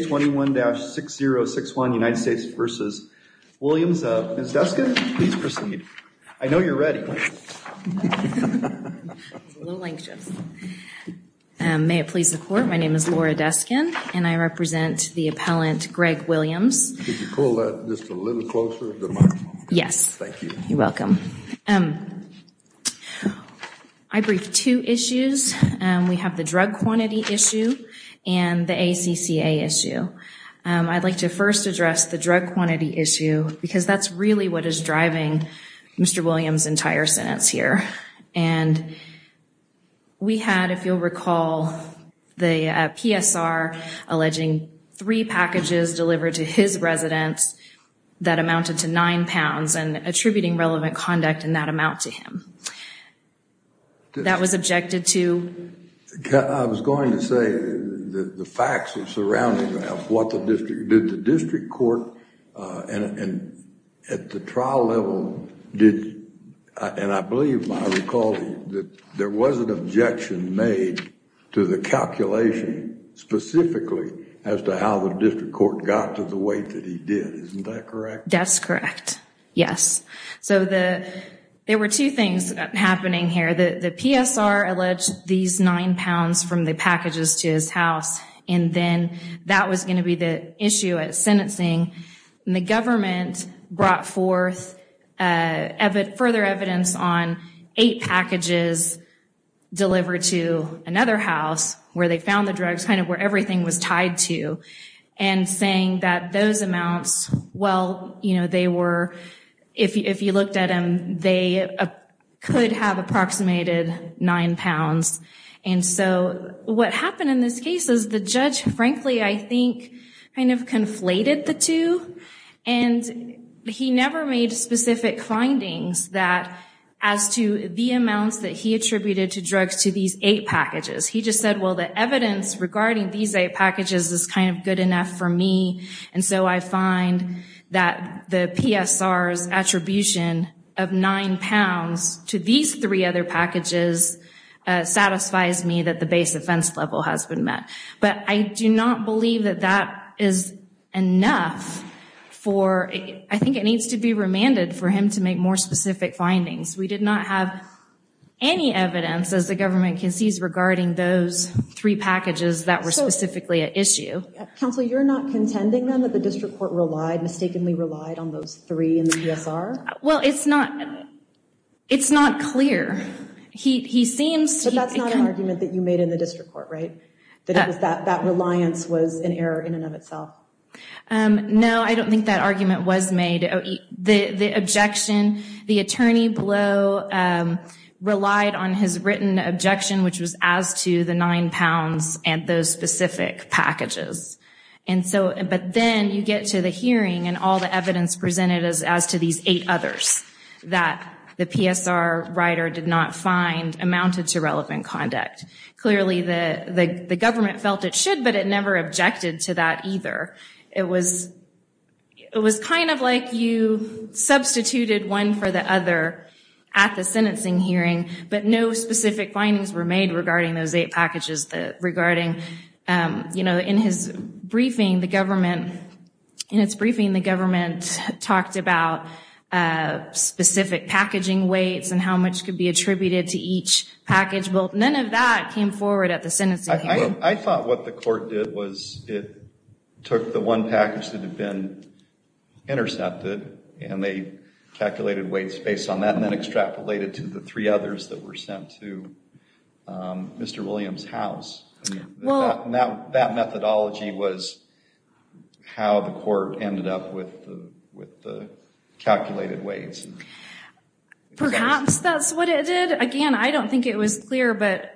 21-6061, United States v. Williams. Ms. Deskin, please proceed. I know you're ready. May it please the court, my name is Laura Deskin, and I represent the appellant Greg Williams. Could you pull that just a little closer to the microphone? Yes. Thank you. You're welcome. I briefed two issues. We have the drug quantity issue and the ACCA issue. I'd like to first address the drug quantity issue because that's really what is driving Mr. Williams' entire sentence here. And we had, if you'll recall, the PSR alleging three packages delivered to his residence that amounted to nine pounds and attributing relevant conduct in that amount to him. That was objected to. I was going to say that the facts surrounding that, what the district, did the district court, and at the trial level, did, and I believe I recall that there was an objection made to the calculation specifically as to how the district court got to the weight that he did. Isn't that correct? That's correct. Yes. So there were two things happening here. The PSR alleged these nine pounds from the packages to his house, and then that was going to be the issue at sentencing. And the government brought forth further evidence on eight packages delivered to another house where they found the drugs, kind of where everything was tied to, and saying that those amounts, well, you know, they were, if you looked at them, they could have approximated nine pounds. And so what happened in this case is the judge, frankly, I think kind of conflated the two, and he never made specific findings that, as to the amounts that he attributed to drugs to these eight packages. He just said, well, the evidence regarding these eight packages is kind of good enough for me, and so I find that the PSR's attribution of nine pounds to these three other packages satisfies me that the base offense level has been met. But I do not believe that that is enough for, I think it needs to be remanded for him to make more specific findings. We did not have any evidence, as the government concedes, regarding those three packages that were specifically at issue. Counsel, you're not contending, then, that the district court relied, mistakenly relied, on those three in the PSR? Well, it's not, it's not clear. He seems to... But that's not an argument that you made in the district court, right? That that reliance was an error in and of itself. No, I don't think that argument was made. The objection, the attorney below relied on his written objection, which was as to the nine pounds and those specific packages. And so, but then you get to the hearing and all the evidence presented as to these eight others that the PSR writer did not find amounted to relevant conduct. Clearly, the government felt it should, but it never objected to that either. It was, it was kind of like you substituted one for the other at the sentencing hearing, but no specific findings were made regarding those eight packages that regarding, you know, in his briefing, the government, in its briefing, the government talked about specific packaging weights and how much could be attributed to each package. Well, none of that came forward at the sentencing. I thought what the court did was it took the one package that had been intercepted and they calculated weights based on that and then extrapolated to the three others that were sent to Mr. Williams' house. That methodology was how the court ended up with the calculated weights. Perhaps that's what it did. Again, I don't think it was clear, but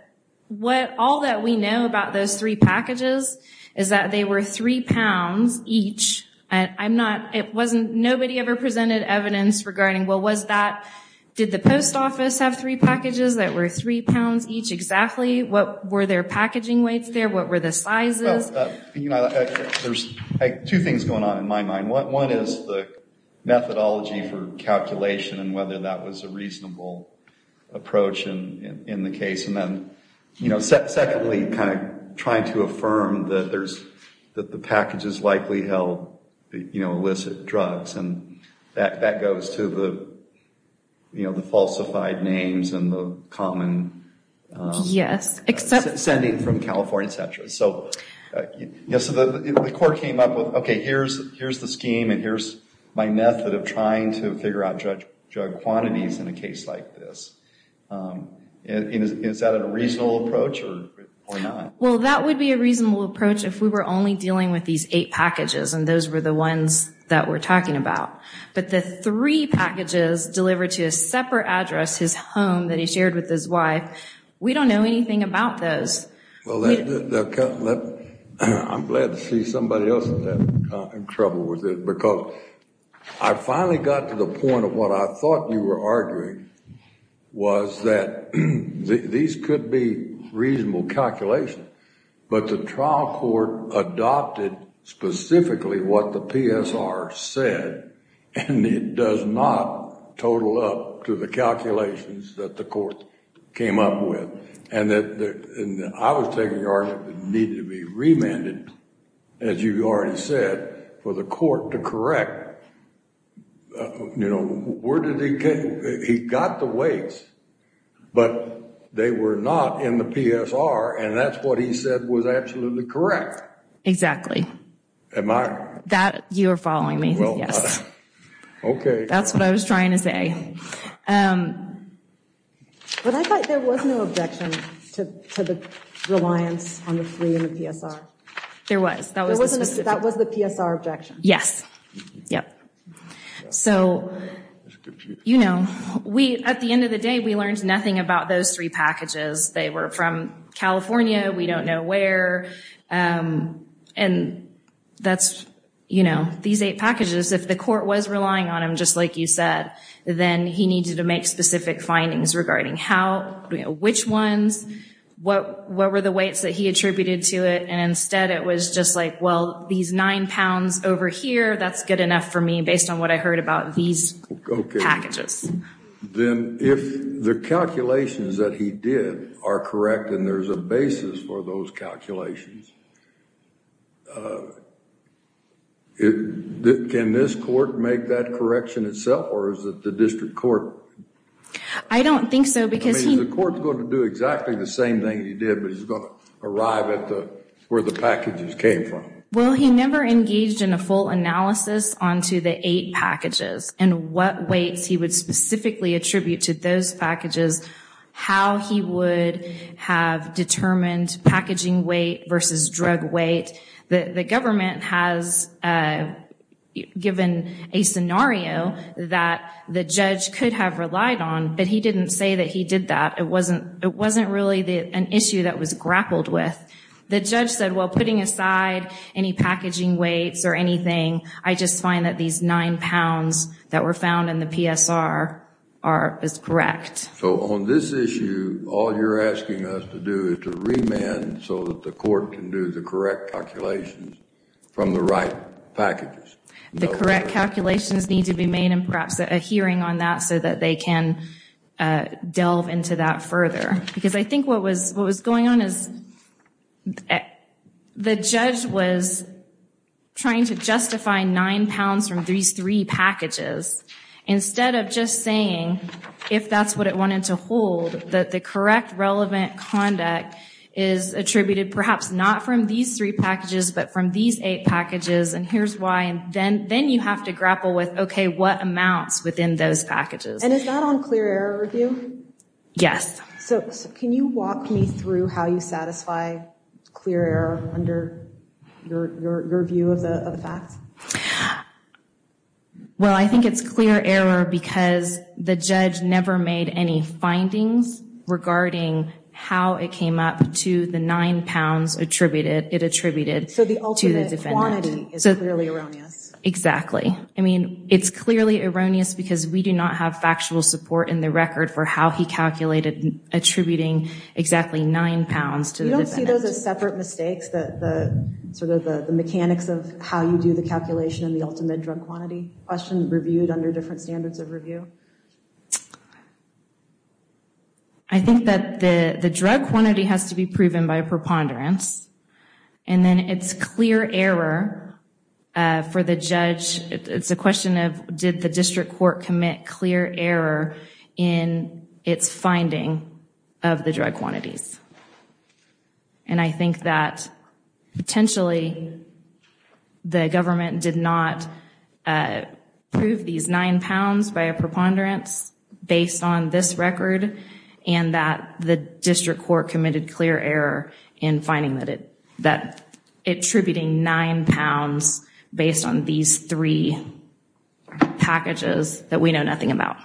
what all that we know about those three packages is that they were three pounds each. And I'm not, it wasn't, nobody ever presented evidence regarding, well, was that, did the post office have three packages that were three pounds each exactly? What were their packaging weights there? What were the sizes? There's two things going on in my mind. One is the methodology for calculation and whether that was a reasonable approach in the case. And then, you know, secondly, kind of trying to affirm that there's, that the package is likely held, you know, illicit drugs. And that goes to the, you know, the falsified names and the common sending from California, etc. Yes, so the court came up with, okay, here's the scheme and here's my method of trying to figure out drug quantities in a case like this. Is that a reasonable approach or not? Well, that would be a reasonable approach if we were only dealing with these eight packages and those were the ones that we're talking about. But the three packages delivered to a separate address, his home, that he shared with his wife, we don't know anything about those. I'm glad to see somebody else in trouble with it because I finally got to the point of what I thought you were arguing was that these could be reasonable calculations, but the trial court adopted specifically what the PSR said, and it does not total up to the calculations that the court came up with. And that, and I was taking argument that it needed to be remanded, as you've already said, for the court to correct, you know, where did he get, he got the weights, but they were not in the PSR, and that's what he said was absolutely correct. Exactly. Am I? That, you are following me, yes. Okay. That's what I was trying to say. But I thought there was no objection to the reliance on the plea in the PSR. There was. That was the PSR objection. Yes. Yep. So, you know, we, at the end of the day, we learned nothing about those three packages. They were from California. We don't know where. And that's, you know, these eight packages, if the court was relying on him, just like you said, then he needed to make specific findings regarding how, you know, which ones, what, what were the weights that he attributed to it, and instead it was just like, well, these nine pounds over here, that's good enough for me, based on what I heard about these packages. Then, if the calculations that he did are correct, and there's a basis for those calculations, it, can this court make that correction itself, or is it the district court? I mean, the same thing you did, but it's going to arrive at the, where the packages came from. Well, he never engaged in a full analysis onto the eight packages, and what weights he would specifically attribute to those packages, how he would have determined packaging weight versus drug weight. The government has given a scenario that the judge could have relied on, but he didn't say that he did that. It wasn't, it wasn't really the, an issue that was grappled with. The judge said, well, putting aside any packaging weights or anything, I just find that these nine pounds that were found in the PSR are, is correct. So, on this issue, all you're asking us to do is to remand so that the court can do the correct calculations from the right packages. The correct calculations need to be made, and perhaps a hearing on that so that they can delve into that further. Because I think what was, what was going on is, the judge was trying to justify nine pounds from these three packages, instead of just saying, if that's what it wanted to hold, that the correct relevant conduct is attributed, perhaps not from these three packages, but from these eight packages, and here's why, and then, then you have to grapple with, okay, what amounts within those packages? And is that on clear error review? Yes. So, can you walk me through how you satisfy clear error under your view of the facts? Well, I think it's clear error because the judge never made any findings regarding how it came up to the nine pounds attributed, it attributed to the defendant. So the ultimate quantity is clearly erroneous. Exactly. I mean, it's clearly erroneous because we do not have factual support in the record for how he calculated attributing exactly nine pounds to the defendant. You don't see those as separate mistakes, the, sort of, the mechanics of how you do the calculation in the ultimate drug quantity question reviewed under different standards of review? I think that the drug quantity has to be proven by a preponderance, and then it's clear error for the judge. It's a question of, did the district court commit clear error in its finding of the drug quantities? And I think that potentially the government did not prove these nine pounds by a preponderance based on this record, and that the district court committed clear error in finding that it, that attributing nine pounds based on these three packages that we know nothing about.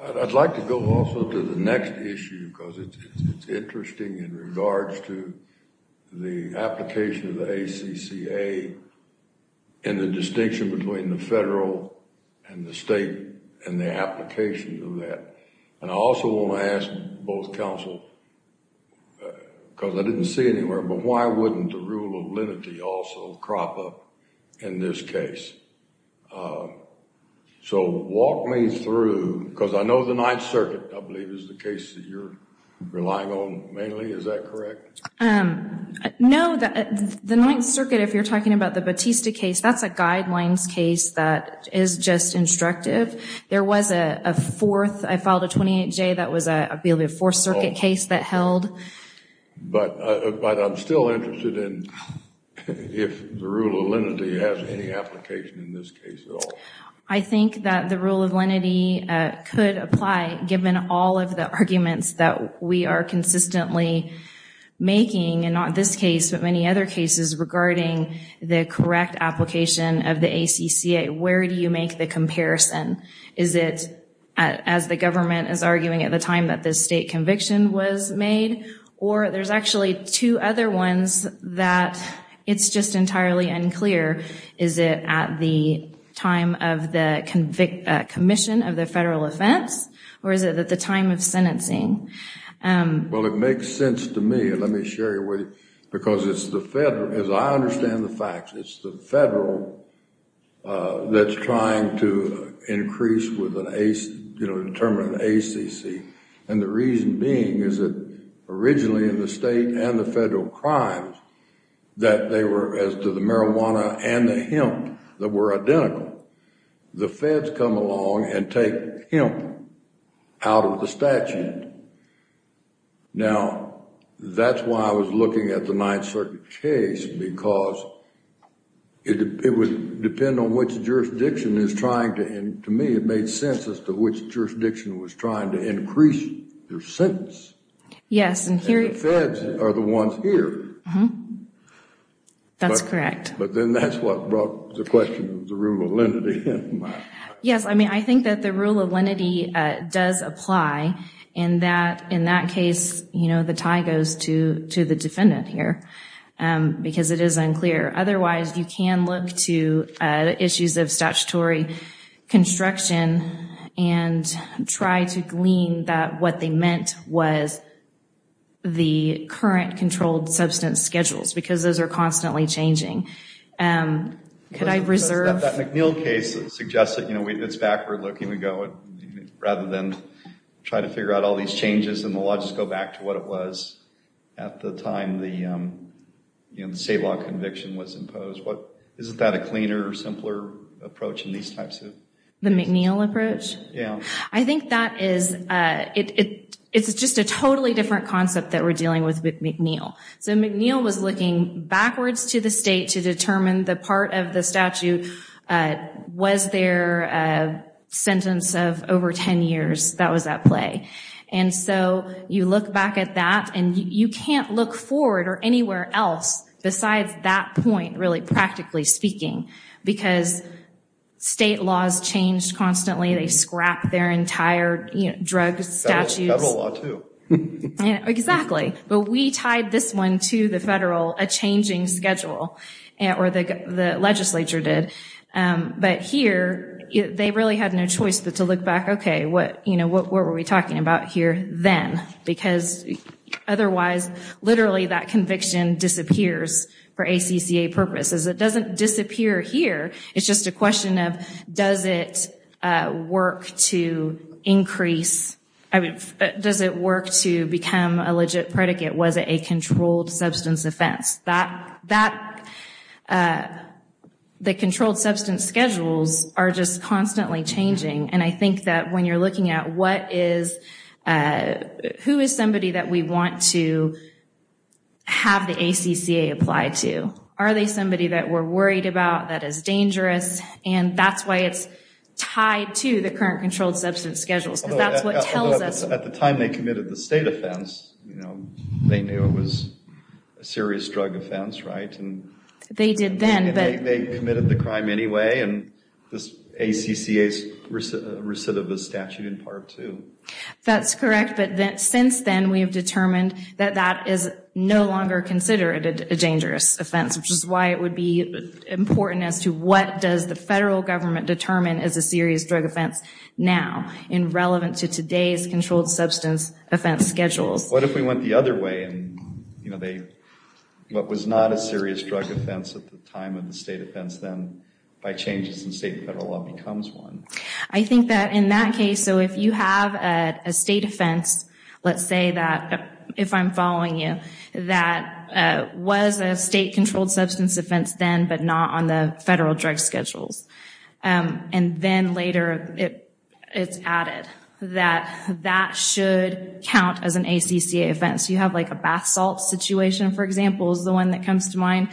I'd like to go also to the next issue because it's interesting in regards to the application of the ACCA and the distinction between the federal and the state and the applications of that. And I also want to ask both counsel, because I didn't see anywhere, but why wouldn't the rule of lenity also crop up in this case? So walk me through, because I know the Ninth Circuit, I believe, is the case that you're relying on mainly. Is that correct? No, the Ninth Circuit, if you're talking about the Batista case, that's a guidelines case that is just instructive. There was a fourth, I filed a 28-J, that was a, I believe, a Fourth Circuit case that held. But I'm still interested in if the rule of lenity has any application in this case at all. I think that the rule of lenity could apply given all of the arguments that we are consistently making, and not this case, but many other cases regarding the correct application of the ACCA. Where do you make the comparison? Is it as the government is arguing at the time that this state conviction was made? Or there's actually two other ones that it's just entirely unclear. Is it at the time of the commission of the federal offense, or is it at the time of sentencing? Well, it makes sense to me. Let me share it with you, because it's the federal, as I understand the facts, it's the federal that's trying to increase with an ACE, you know, determine an ACC. And the reason being is that originally in the state and the federal crimes, that they were, as to the marijuana and the hemp, that were identical. The feds come along and take hemp out of the statute. Now, that's why I was looking at the Ninth Circuit case, because it would depend on which jurisdiction is trying to, and to me, it made sense as to which jurisdiction was trying to increase their sentence. Yes, and here... And the feds are the ones here. That's correct. But then that's what brought the question of the rule of lenity. Yes, I mean, I think that the rule of lenity does apply, and that in that case, you know, the tie goes to to the defendant here. Because it is unclear. Otherwise, you can look to issues of statutory construction and try to glean that what they meant was the current controlled substance schedules, because those are constantly changing. Could I reserve... That McNeil case suggests that, you know, it's backward-looking. We go, rather than try to figure out all these changes in the law, just go back to what it was at the time the state law conviction was imposed. What... Isn't that a cleaner, simpler approach in these types of... The McNeil approach? Yeah. I think that is... It's just a totally different concept that we're dealing with with McNeil. So McNeil was looking backwards to the state to determine the part of the statute was there a sentence of over 10 years that was at play. And so you look back at that, and you can't look forward or anywhere else besides that point, really, practically speaking. Because state laws changed constantly. They scrapped their entire, you know, drug statutes. Federal law, too. Exactly. But we tied this one to the federal, a changing schedule, or the legislature did. But here, they really had no choice but to look back. Okay, what, you know, what were we talking about here then? Because otherwise, literally, that conviction disappears for ACCA purposes. It doesn't disappear here. It's just a question of, does it work to increase... I mean, does it work to become a legit predicate? Was it a controlled substance offense? That, that... The controlled substance schedules are just constantly changing. And I think that when you're looking at what is... that we want to have the ACCA apply to, are they somebody that we're worried about, that is dangerous, and that's why it's tied to the current controlled substance schedules. Because that's what tells us... At the time they committed the state offense, you know, they knew it was a serious drug offense, right? And... They did then, but... They committed the crime anyway, and this ACCA's aversive of the statute in Part 2. That's correct, but then, since then, we have determined that that is no longer considered a dangerous offense, which is why it would be important as to what does the federal government determine as a serious drug offense now, irrelevant to today's controlled substance offense schedules. What if we went the other way, and you know, they... What was not a serious drug offense at the time of the state offense then, by changes in state and federal law, becomes one. I think that in that case, so if you have a state offense, let's say that, if I'm following you, that was a state controlled substance offense then, but not on the federal drug schedules. And then later, it's added that that should count as an ACCA offense. You have like a bath salt situation, for example, is the one that comes to mind,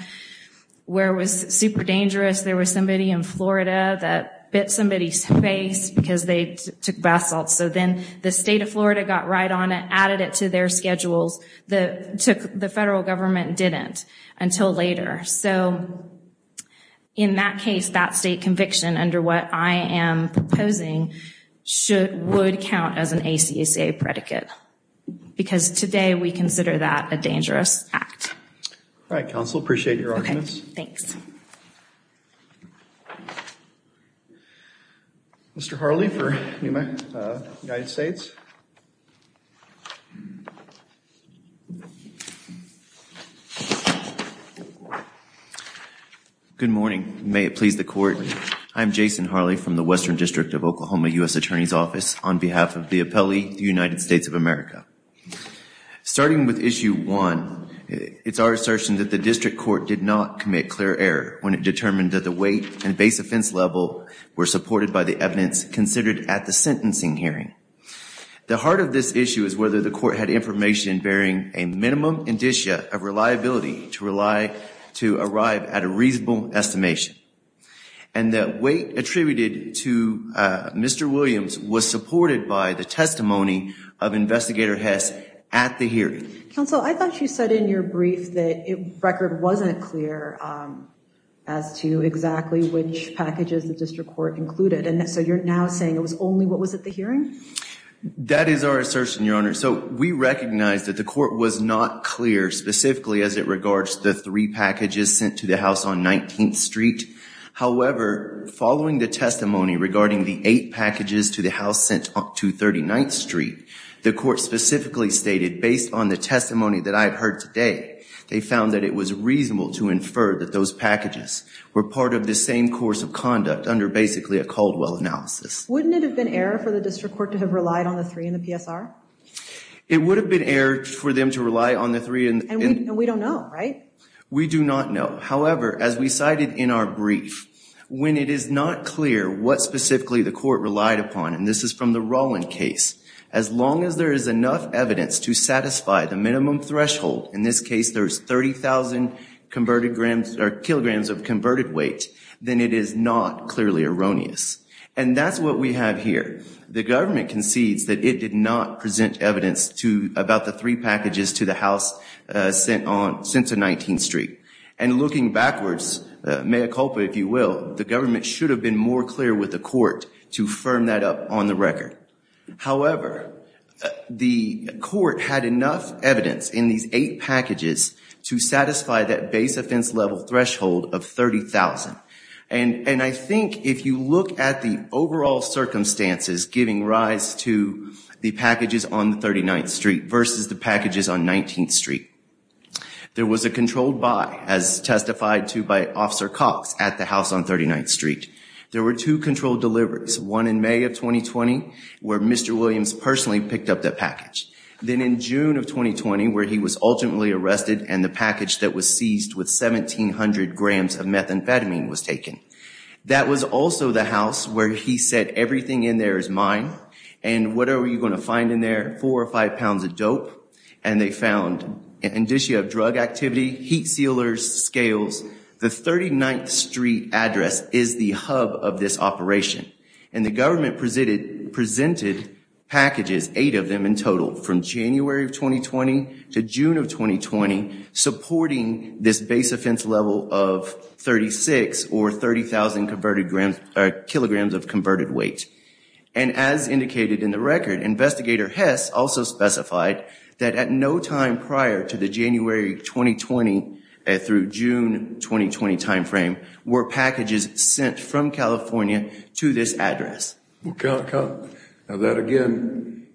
where it was super dangerous. There was somebody in Florida that bit somebody's face, because they took bath salts. So then, the state of Florida got right on it, added it to their schedules. The federal government didn't, until later. So, in that case, that state conviction, under what I am proposing, should, would count as an ACCA predicate. Because today, we consider that a dangerous act. All right, counsel, appreciate your arguments. Okay, thanks. Mr. Harley for Newman United States. Good morning. May it please the court. I'm Jason Harley from the Western District of Oklahoma U.S. Attorney's Office on behalf of the appellee, the United States of America. Starting with issue one, it's our assertion that the district court did not commit clear error when it determined that the weight and base offense level were supported by the evidence considered at the sentencing hearing. The heart of this issue is whether the court had information bearing a minimum indicia of reliability to rely, to arrive at a reasonable estimation. And that weight attributed to Mr. Williams was supported by the testimony of Investigator Hess at the hearing. Counsel, I thought you said in your brief that record wasn't clear as to exactly which packages the district court included. And so, you're now saying it was only what was at the hearing? That is our assertion, your honor. So, we recognize that the court was not clear specifically as it regards the three packages sent to the house on 19th Street. However, following the testimony regarding the eight packages to the house sent to 39th Street, the court specifically stated, based on the testimony that I've heard today, they found that it was reasonable to infer that those packages were part of the same course of conduct under basically a Caldwell analysis. Wouldn't it have been error for the district court to have relied on the three in the PSR? It would have been error for them to rely on the three in the- And we don't know, right? We do not know. However, as we cited in our brief, when it is not clear what specifically the court relied upon, and this is from the Rolland case, as long as there is enough evidence to satisfy the minimum threshold, in this case there's 30,000 kilograms of converted weight, then it is not clearly erroneous. And that's what we have here. The government concedes that it did not present evidence to, about the three packages to the house sent on, sent to 19th Street. And looking backwards, mea culpa, if you will, the government should have been more clear with the court to firm that up on the record. However, the court had enough evidence in these eight packages to satisfy that base offense level threshold of 30,000. And I think if you look at the overall circumstances giving rise to the packages on 39th Street versus the packages on 19th Street, there was a controlled buy, as testified to by Officer Cox at the house on 39th Street. There were two controlled deliveries, one in May of 2020, where Mr. Williams personally picked up that package. Then in June of 2020, where he was ultimately arrested and the package that was seized with 1,700 grams of methamphetamine was taken. That was also the house where he said everything in there is mine, and whatever you're going to find in there, four or five pounds of dope, and they found an indicia of drug activity, heat sealers, scales. The 39th Street address is the hub of this operation. And the government presented packages, eight of them in total, from January of 2020 to June of 2020, supporting this base offense level of 36 or 30,000 kilograms of converted weight. And as indicated in the record, Investigator Hess also specified that at no time prior to the January 2020 through June 2020 timeframe, were packages sent from California to this address. Now that again,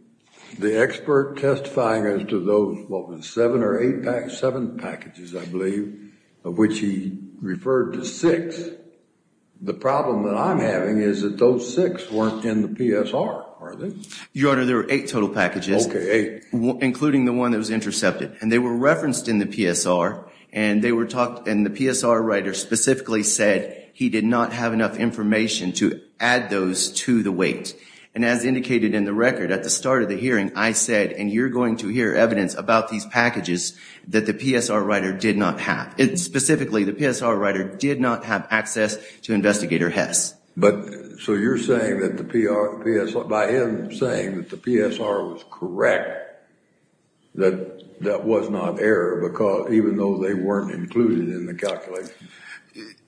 the expert testifying as to those, what was it, seven or eight packages, seven packages, I believe, of which he referred to six, the problem that I'm having is that those six weren't in the PSR, are they? Your Honor, there were eight total packages. Okay, eight. Including the one that was intercepted. And they were referenced in the PSR, and they were talked, and the PSR writer specifically said he did not have enough information to add those to the weight. And as indicated in the record, at the start of the hearing, I said, and you're going to hear evidence about these packages that the PSR writer did not have. Specifically, the PSR writer did not have access to Investigator Hess. But, so you're saying that the PSR, by him saying that the PSR was correct, that that was not error, because even though they weren't included in the calculation.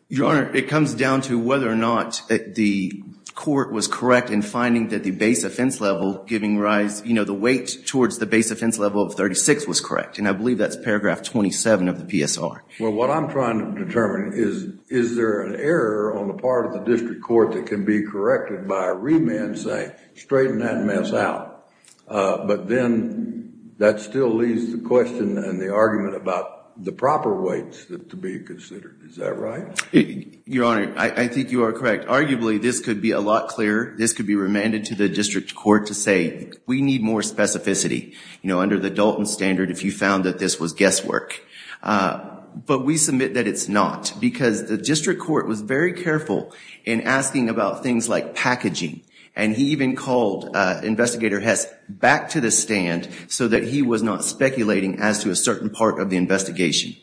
Your Honor, it comes down to whether or not the court was correct in finding that the base offense level giving rise, you know, the weight towards the base offense level of 36 was correct. And I believe that's paragraph 27 of the PSR. Well, what I'm trying to determine is, is there an error on the part of the district court that can be corrected by a remand saying, straighten that mess out. But then, that still leaves the question and the argument about the proper weights to be considered. Is that right? Your Honor, I think you are correct. Arguably, this could be a lot clearer. This could be remanded to the district court to say, we need more specificity. You know, under the Dalton standard, if you found that this was guesswork. But we submit that it's not, because the district court was very careful in asking about things like packaging. And he even called investigator Hess back to the stand so that he was not speculating as to a certain part of the investigation.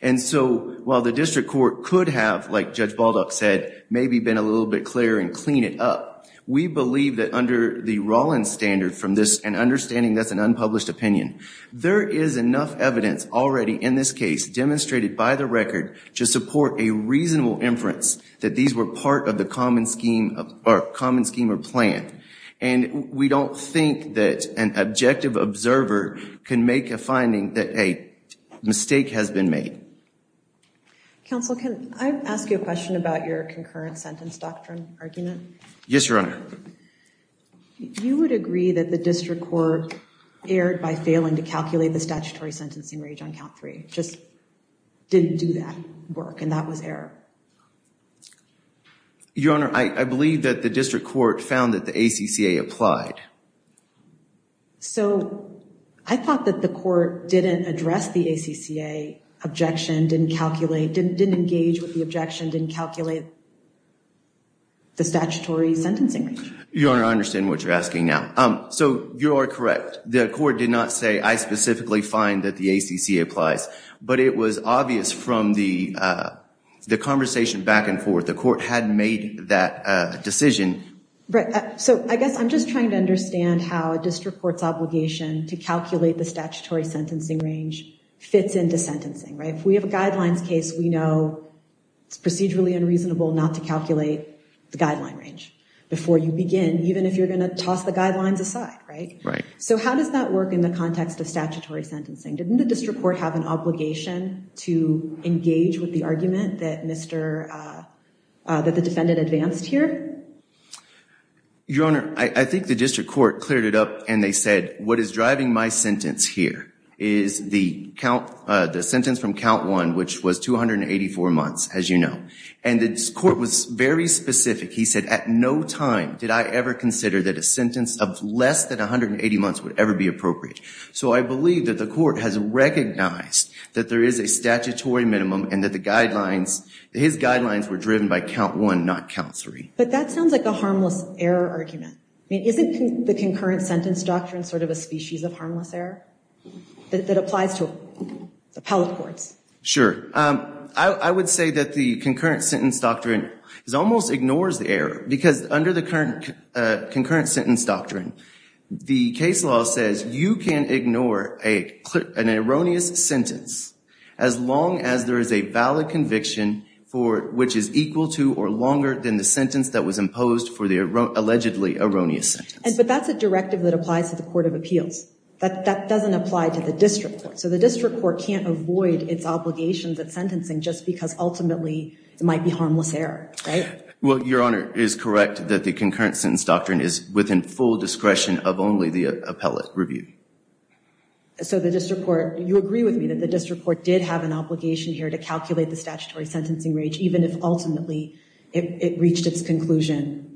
And so, while the district court could have, like Judge Baldock said, maybe been a little bit clearer and clean it up. We believe that under the Rollins standard from this, and understanding that's an unpublished opinion, there is enough evidence already in this case demonstrated by the record to support a reasonable inference that these were part of the common scheme or plan. And we don't think that an objective observer can make a finding that a mistake has been made. Counsel, can I ask you a question about your concurrent sentence doctrine argument? Yes, Your Honor. You would agree that the district court erred by failing to calculate the statutory sentencing range on count three. Just didn't do that work. And that was error. Your Honor, I believe that the district court found that the ACCA applied. So, I thought that the court didn't address the ACCA objection, didn't calculate, didn't engage with the objection, didn't calculate the statutory sentencing range. Your Honor, I understand what you're asking now. So, you are correct. The court did not say, I specifically find that the ACCA applies. But it was obvious from the conversation back and forth, the court had made that decision. So, I guess I'm just trying to understand how a district court's obligation to calculate the statutory sentencing range fits into sentencing, right? If we have a guidelines case, we know it's procedurally unreasonable not to calculate the guideline range before you begin, even if you're going to toss the guidelines aside, right? Right. So, how does that work in the context of statutory sentencing? Didn't the district court have an obligation to engage with the argument that Mr., that the defendant advanced here? Your Honor, I think the district court cleared it up and they said, what is driving my sentence here is the count, the sentence from count one, which was 284 months, as you know. And the court was very specific. He said, at no time did I ever consider that a sentence of less than 180 months would ever be appropriate. So, I believe that the court has recognized that there is a statutory minimum and that the guidelines, his guidelines were driven by count one, not count three. But that sounds like a harmless error argument. I mean, isn't the concurrent sentence doctrine sort of a species of harmless error that applies to appellate courts? Sure. I would say that the concurrent sentence doctrine almost ignores the error because under the concurrent sentence doctrine, the case law says you can ignore an erroneous sentence as long as there is a valid conviction for which is equal to or longer than the sentence that was imposed for the allegedly erroneous sentence. But that's a directive that applies to the Court of Appeals, but that doesn't apply to the district court. So, the district court can't avoid its obligations of sentencing just because ultimately it might be harmless error. Well, Your Honor, it is correct that the concurrent sentence doctrine is within full discretion of only the appellate review. So, the district court, you agree with me that the district court did have an obligation here to calculate the statutory sentencing range, even if ultimately it reached its conclusion.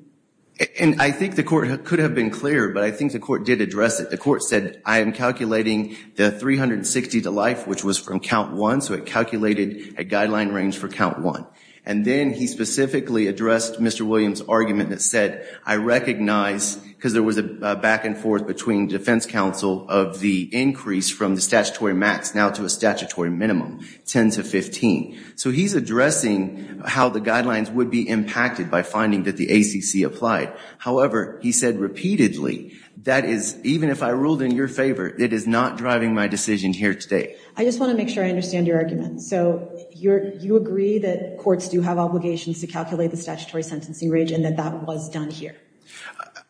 And I think the court could have been clearer, but I think the court did address it. The court said, I am calculating the 360 to life, which was from count one. So, it calculated a guideline range for count one. And then he specifically addressed Mr. Williams' argument that said, I recognize, because there was a back and forth between defense counsel of the increase from the statutory max now to a statutory minimum, 10 to 15. So, he's addressing how the guidelines would be impacted by finding that the ACC applied. However, he said repeatedly, that is, even if I ruled in your favor, it is not driving my decision here today. I just want to make sure I understand your argument. So, you agree that courts do have obligations to calculate the statutory sentencing range and that that was done here?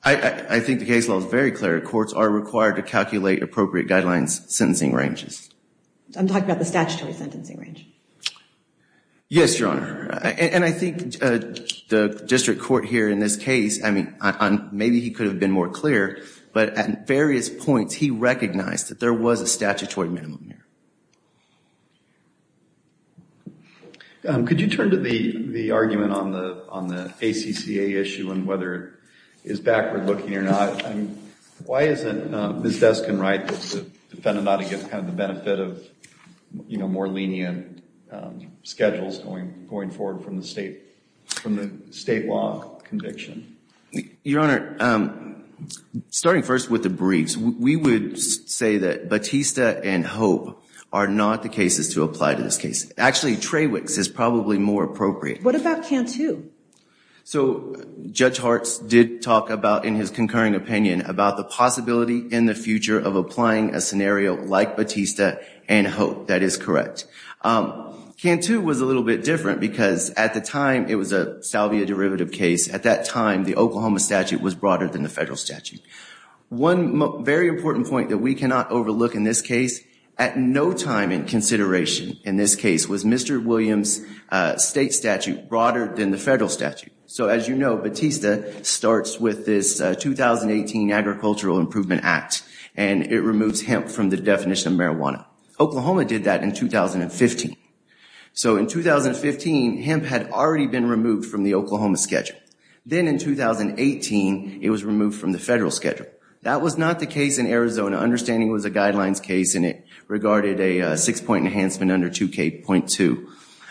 I think the case law is very clear. Courts are required to calculate appropriate guidelines sentencing ranges. I'm talking about the statutory sentencing range. Yes, Your Honor. And I think the district court here in this case, I mean, maybe he could have been more clear, but at various points, he recognized that there was a statutory minimum here. Could you turn to the argument on the ACCA issue and whether it is backward looking or not? Why isn't Ms. Deskin right that the defendant ought to get kind of the benefit of, you know, more lenient schedules going forward from the state, from the state law conviction? Your Honor, starting first with the briefs, we would say that Batista and Hope are not the cases to apply to this case. Actually, Trawick's is probably more appropriate. What about Cantu? So, Judge Hartz did talk about, in his concurring opinion, about the possibility in the future of applying a scenario like Batista and Hope. That is correct. Cantu was a little bit different because at the time it was a salvia derivative case. At that time, the Oklahoma statute was broader than the federal statute. One very important point that we cannot overlook in this case, at no time in consideration in this case, was Mr. Williams' state statute broader than the federal statute. So, as you know, Batista starts with this 2018 Agricultural Improvement Act and it removes hemp from the definition of marijuana. Oklahoma did that in 2015. So, in 2015, hemp had already been removed from the Oklahoma schedule. Then, in 2018, it was removed from the federal schedule. That was not the case in Arizona, understanding it was a guidelines case and it regarded a six-point enhancement under 2K.2.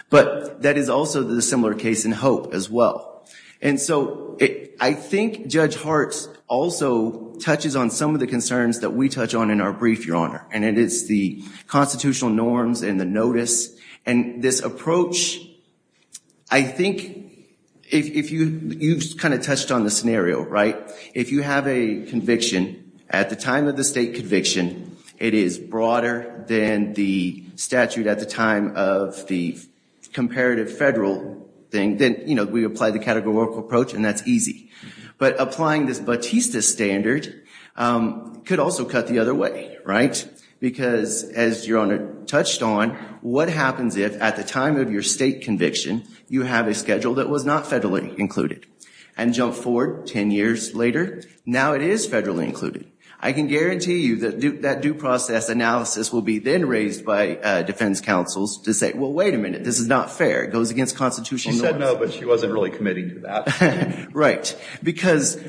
But that is also the similar case in Hope as well. And so, I think Judge Hartz also touches on some of the concerns that we touch on in our brief, Your Honor. And it is the constitutional norms and the notice. And this approach, I think, if you've kind of touched on the scenario, right, if you have a conviction at the time of the state conviction, it is broader than the statute at the time of the comparative federal thing. Then, you know, we apply the categorical approach and that's easy. But applying this Batista standard could also cut the other way, right? Because, as Your Honor touched on, what happens if at the time of your state conviction, you have a schedule that was not federally included? And jump forward 10 years later, now it is federally included. I can guarantee you that that due process analysis will be then raised by defense counsels to say, well, wait a minute, this is not fair. It goes against constitutional norms. She said no, but she wasn't really committing to that. Right. Because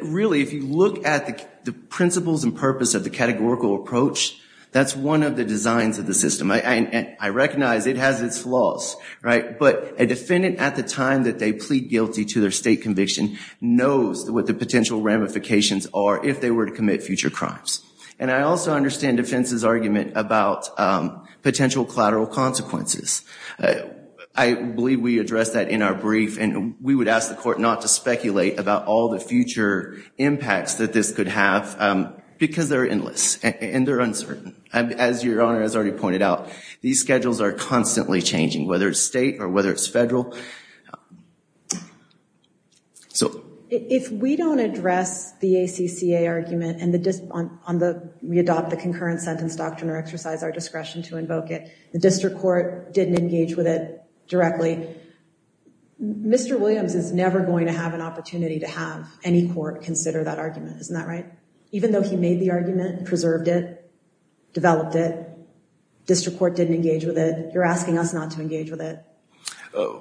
really, if you look at the principles and purpose of the categorical approach, that's one of the designs of the system. I recognize it has its flaws, right? But a defendant at the time that they plead guilty to their state conviction knows what the potential ramifications are if they were to commit future crimes. And I also understand defense's argument about potential collateral consequences. I believe we addressed that in our brief and we would ask the court not to speculate about all the future impacts that this could have because they're endless and they're uncertain. As your Honor has already pointed out, these schedules are constantly changing, whether it's state or whether it's federal. So if we don't address the ACCA argument and we adopt the concurrent sentence doctrine or exercise our discretion to invoke it, the district court didn't engage with it directly. Mr. Williams is never going to have an opportunity to have any court consider that argument. Isn't that right? Even though he made the argument, preserved it, developed it, district court didn't engage with it, you're asking us not to engage with it.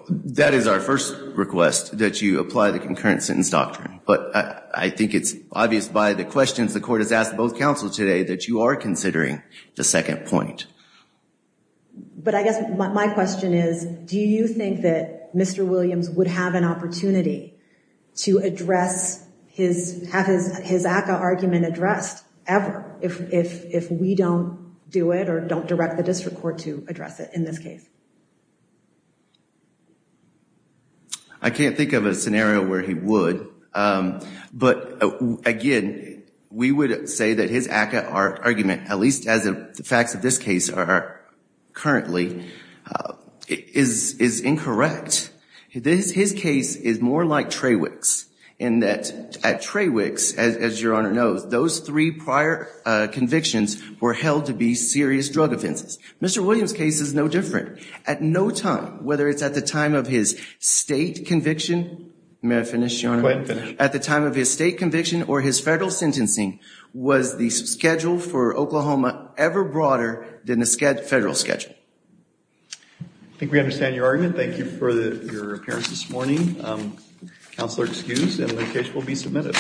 That is our first request, that you apply the concurrent sentence doctrine. But I think it's obvious by the questions the court has asked both counsels today that you are considering the second point. But I guess my question is, do you think that Mr. Williams would have an opportunity to address his, have his ACCA argument addressed ever if we don't do it or don't direct the district court to address it in this case? I can't think of a scenario where he would. But again, we would say that his ACCA argument, at least as of the facts of this case are currently, is incorrect. His case is more like Trawick's in that at Trawick's, as your Honor knows, those three prior convictions were held to be serious drug offenses. Mr. Williams' case is no different. At no time, whether it's at the time of his state conviction, may I finish, your Honor? At the time of his state conviction or his federal sentencing was the schedule for Oklahoma ever broader than the federal schedule. I think we understand your argument. Thank you for your appearance this morning. Counselor excused and the case will be submitted.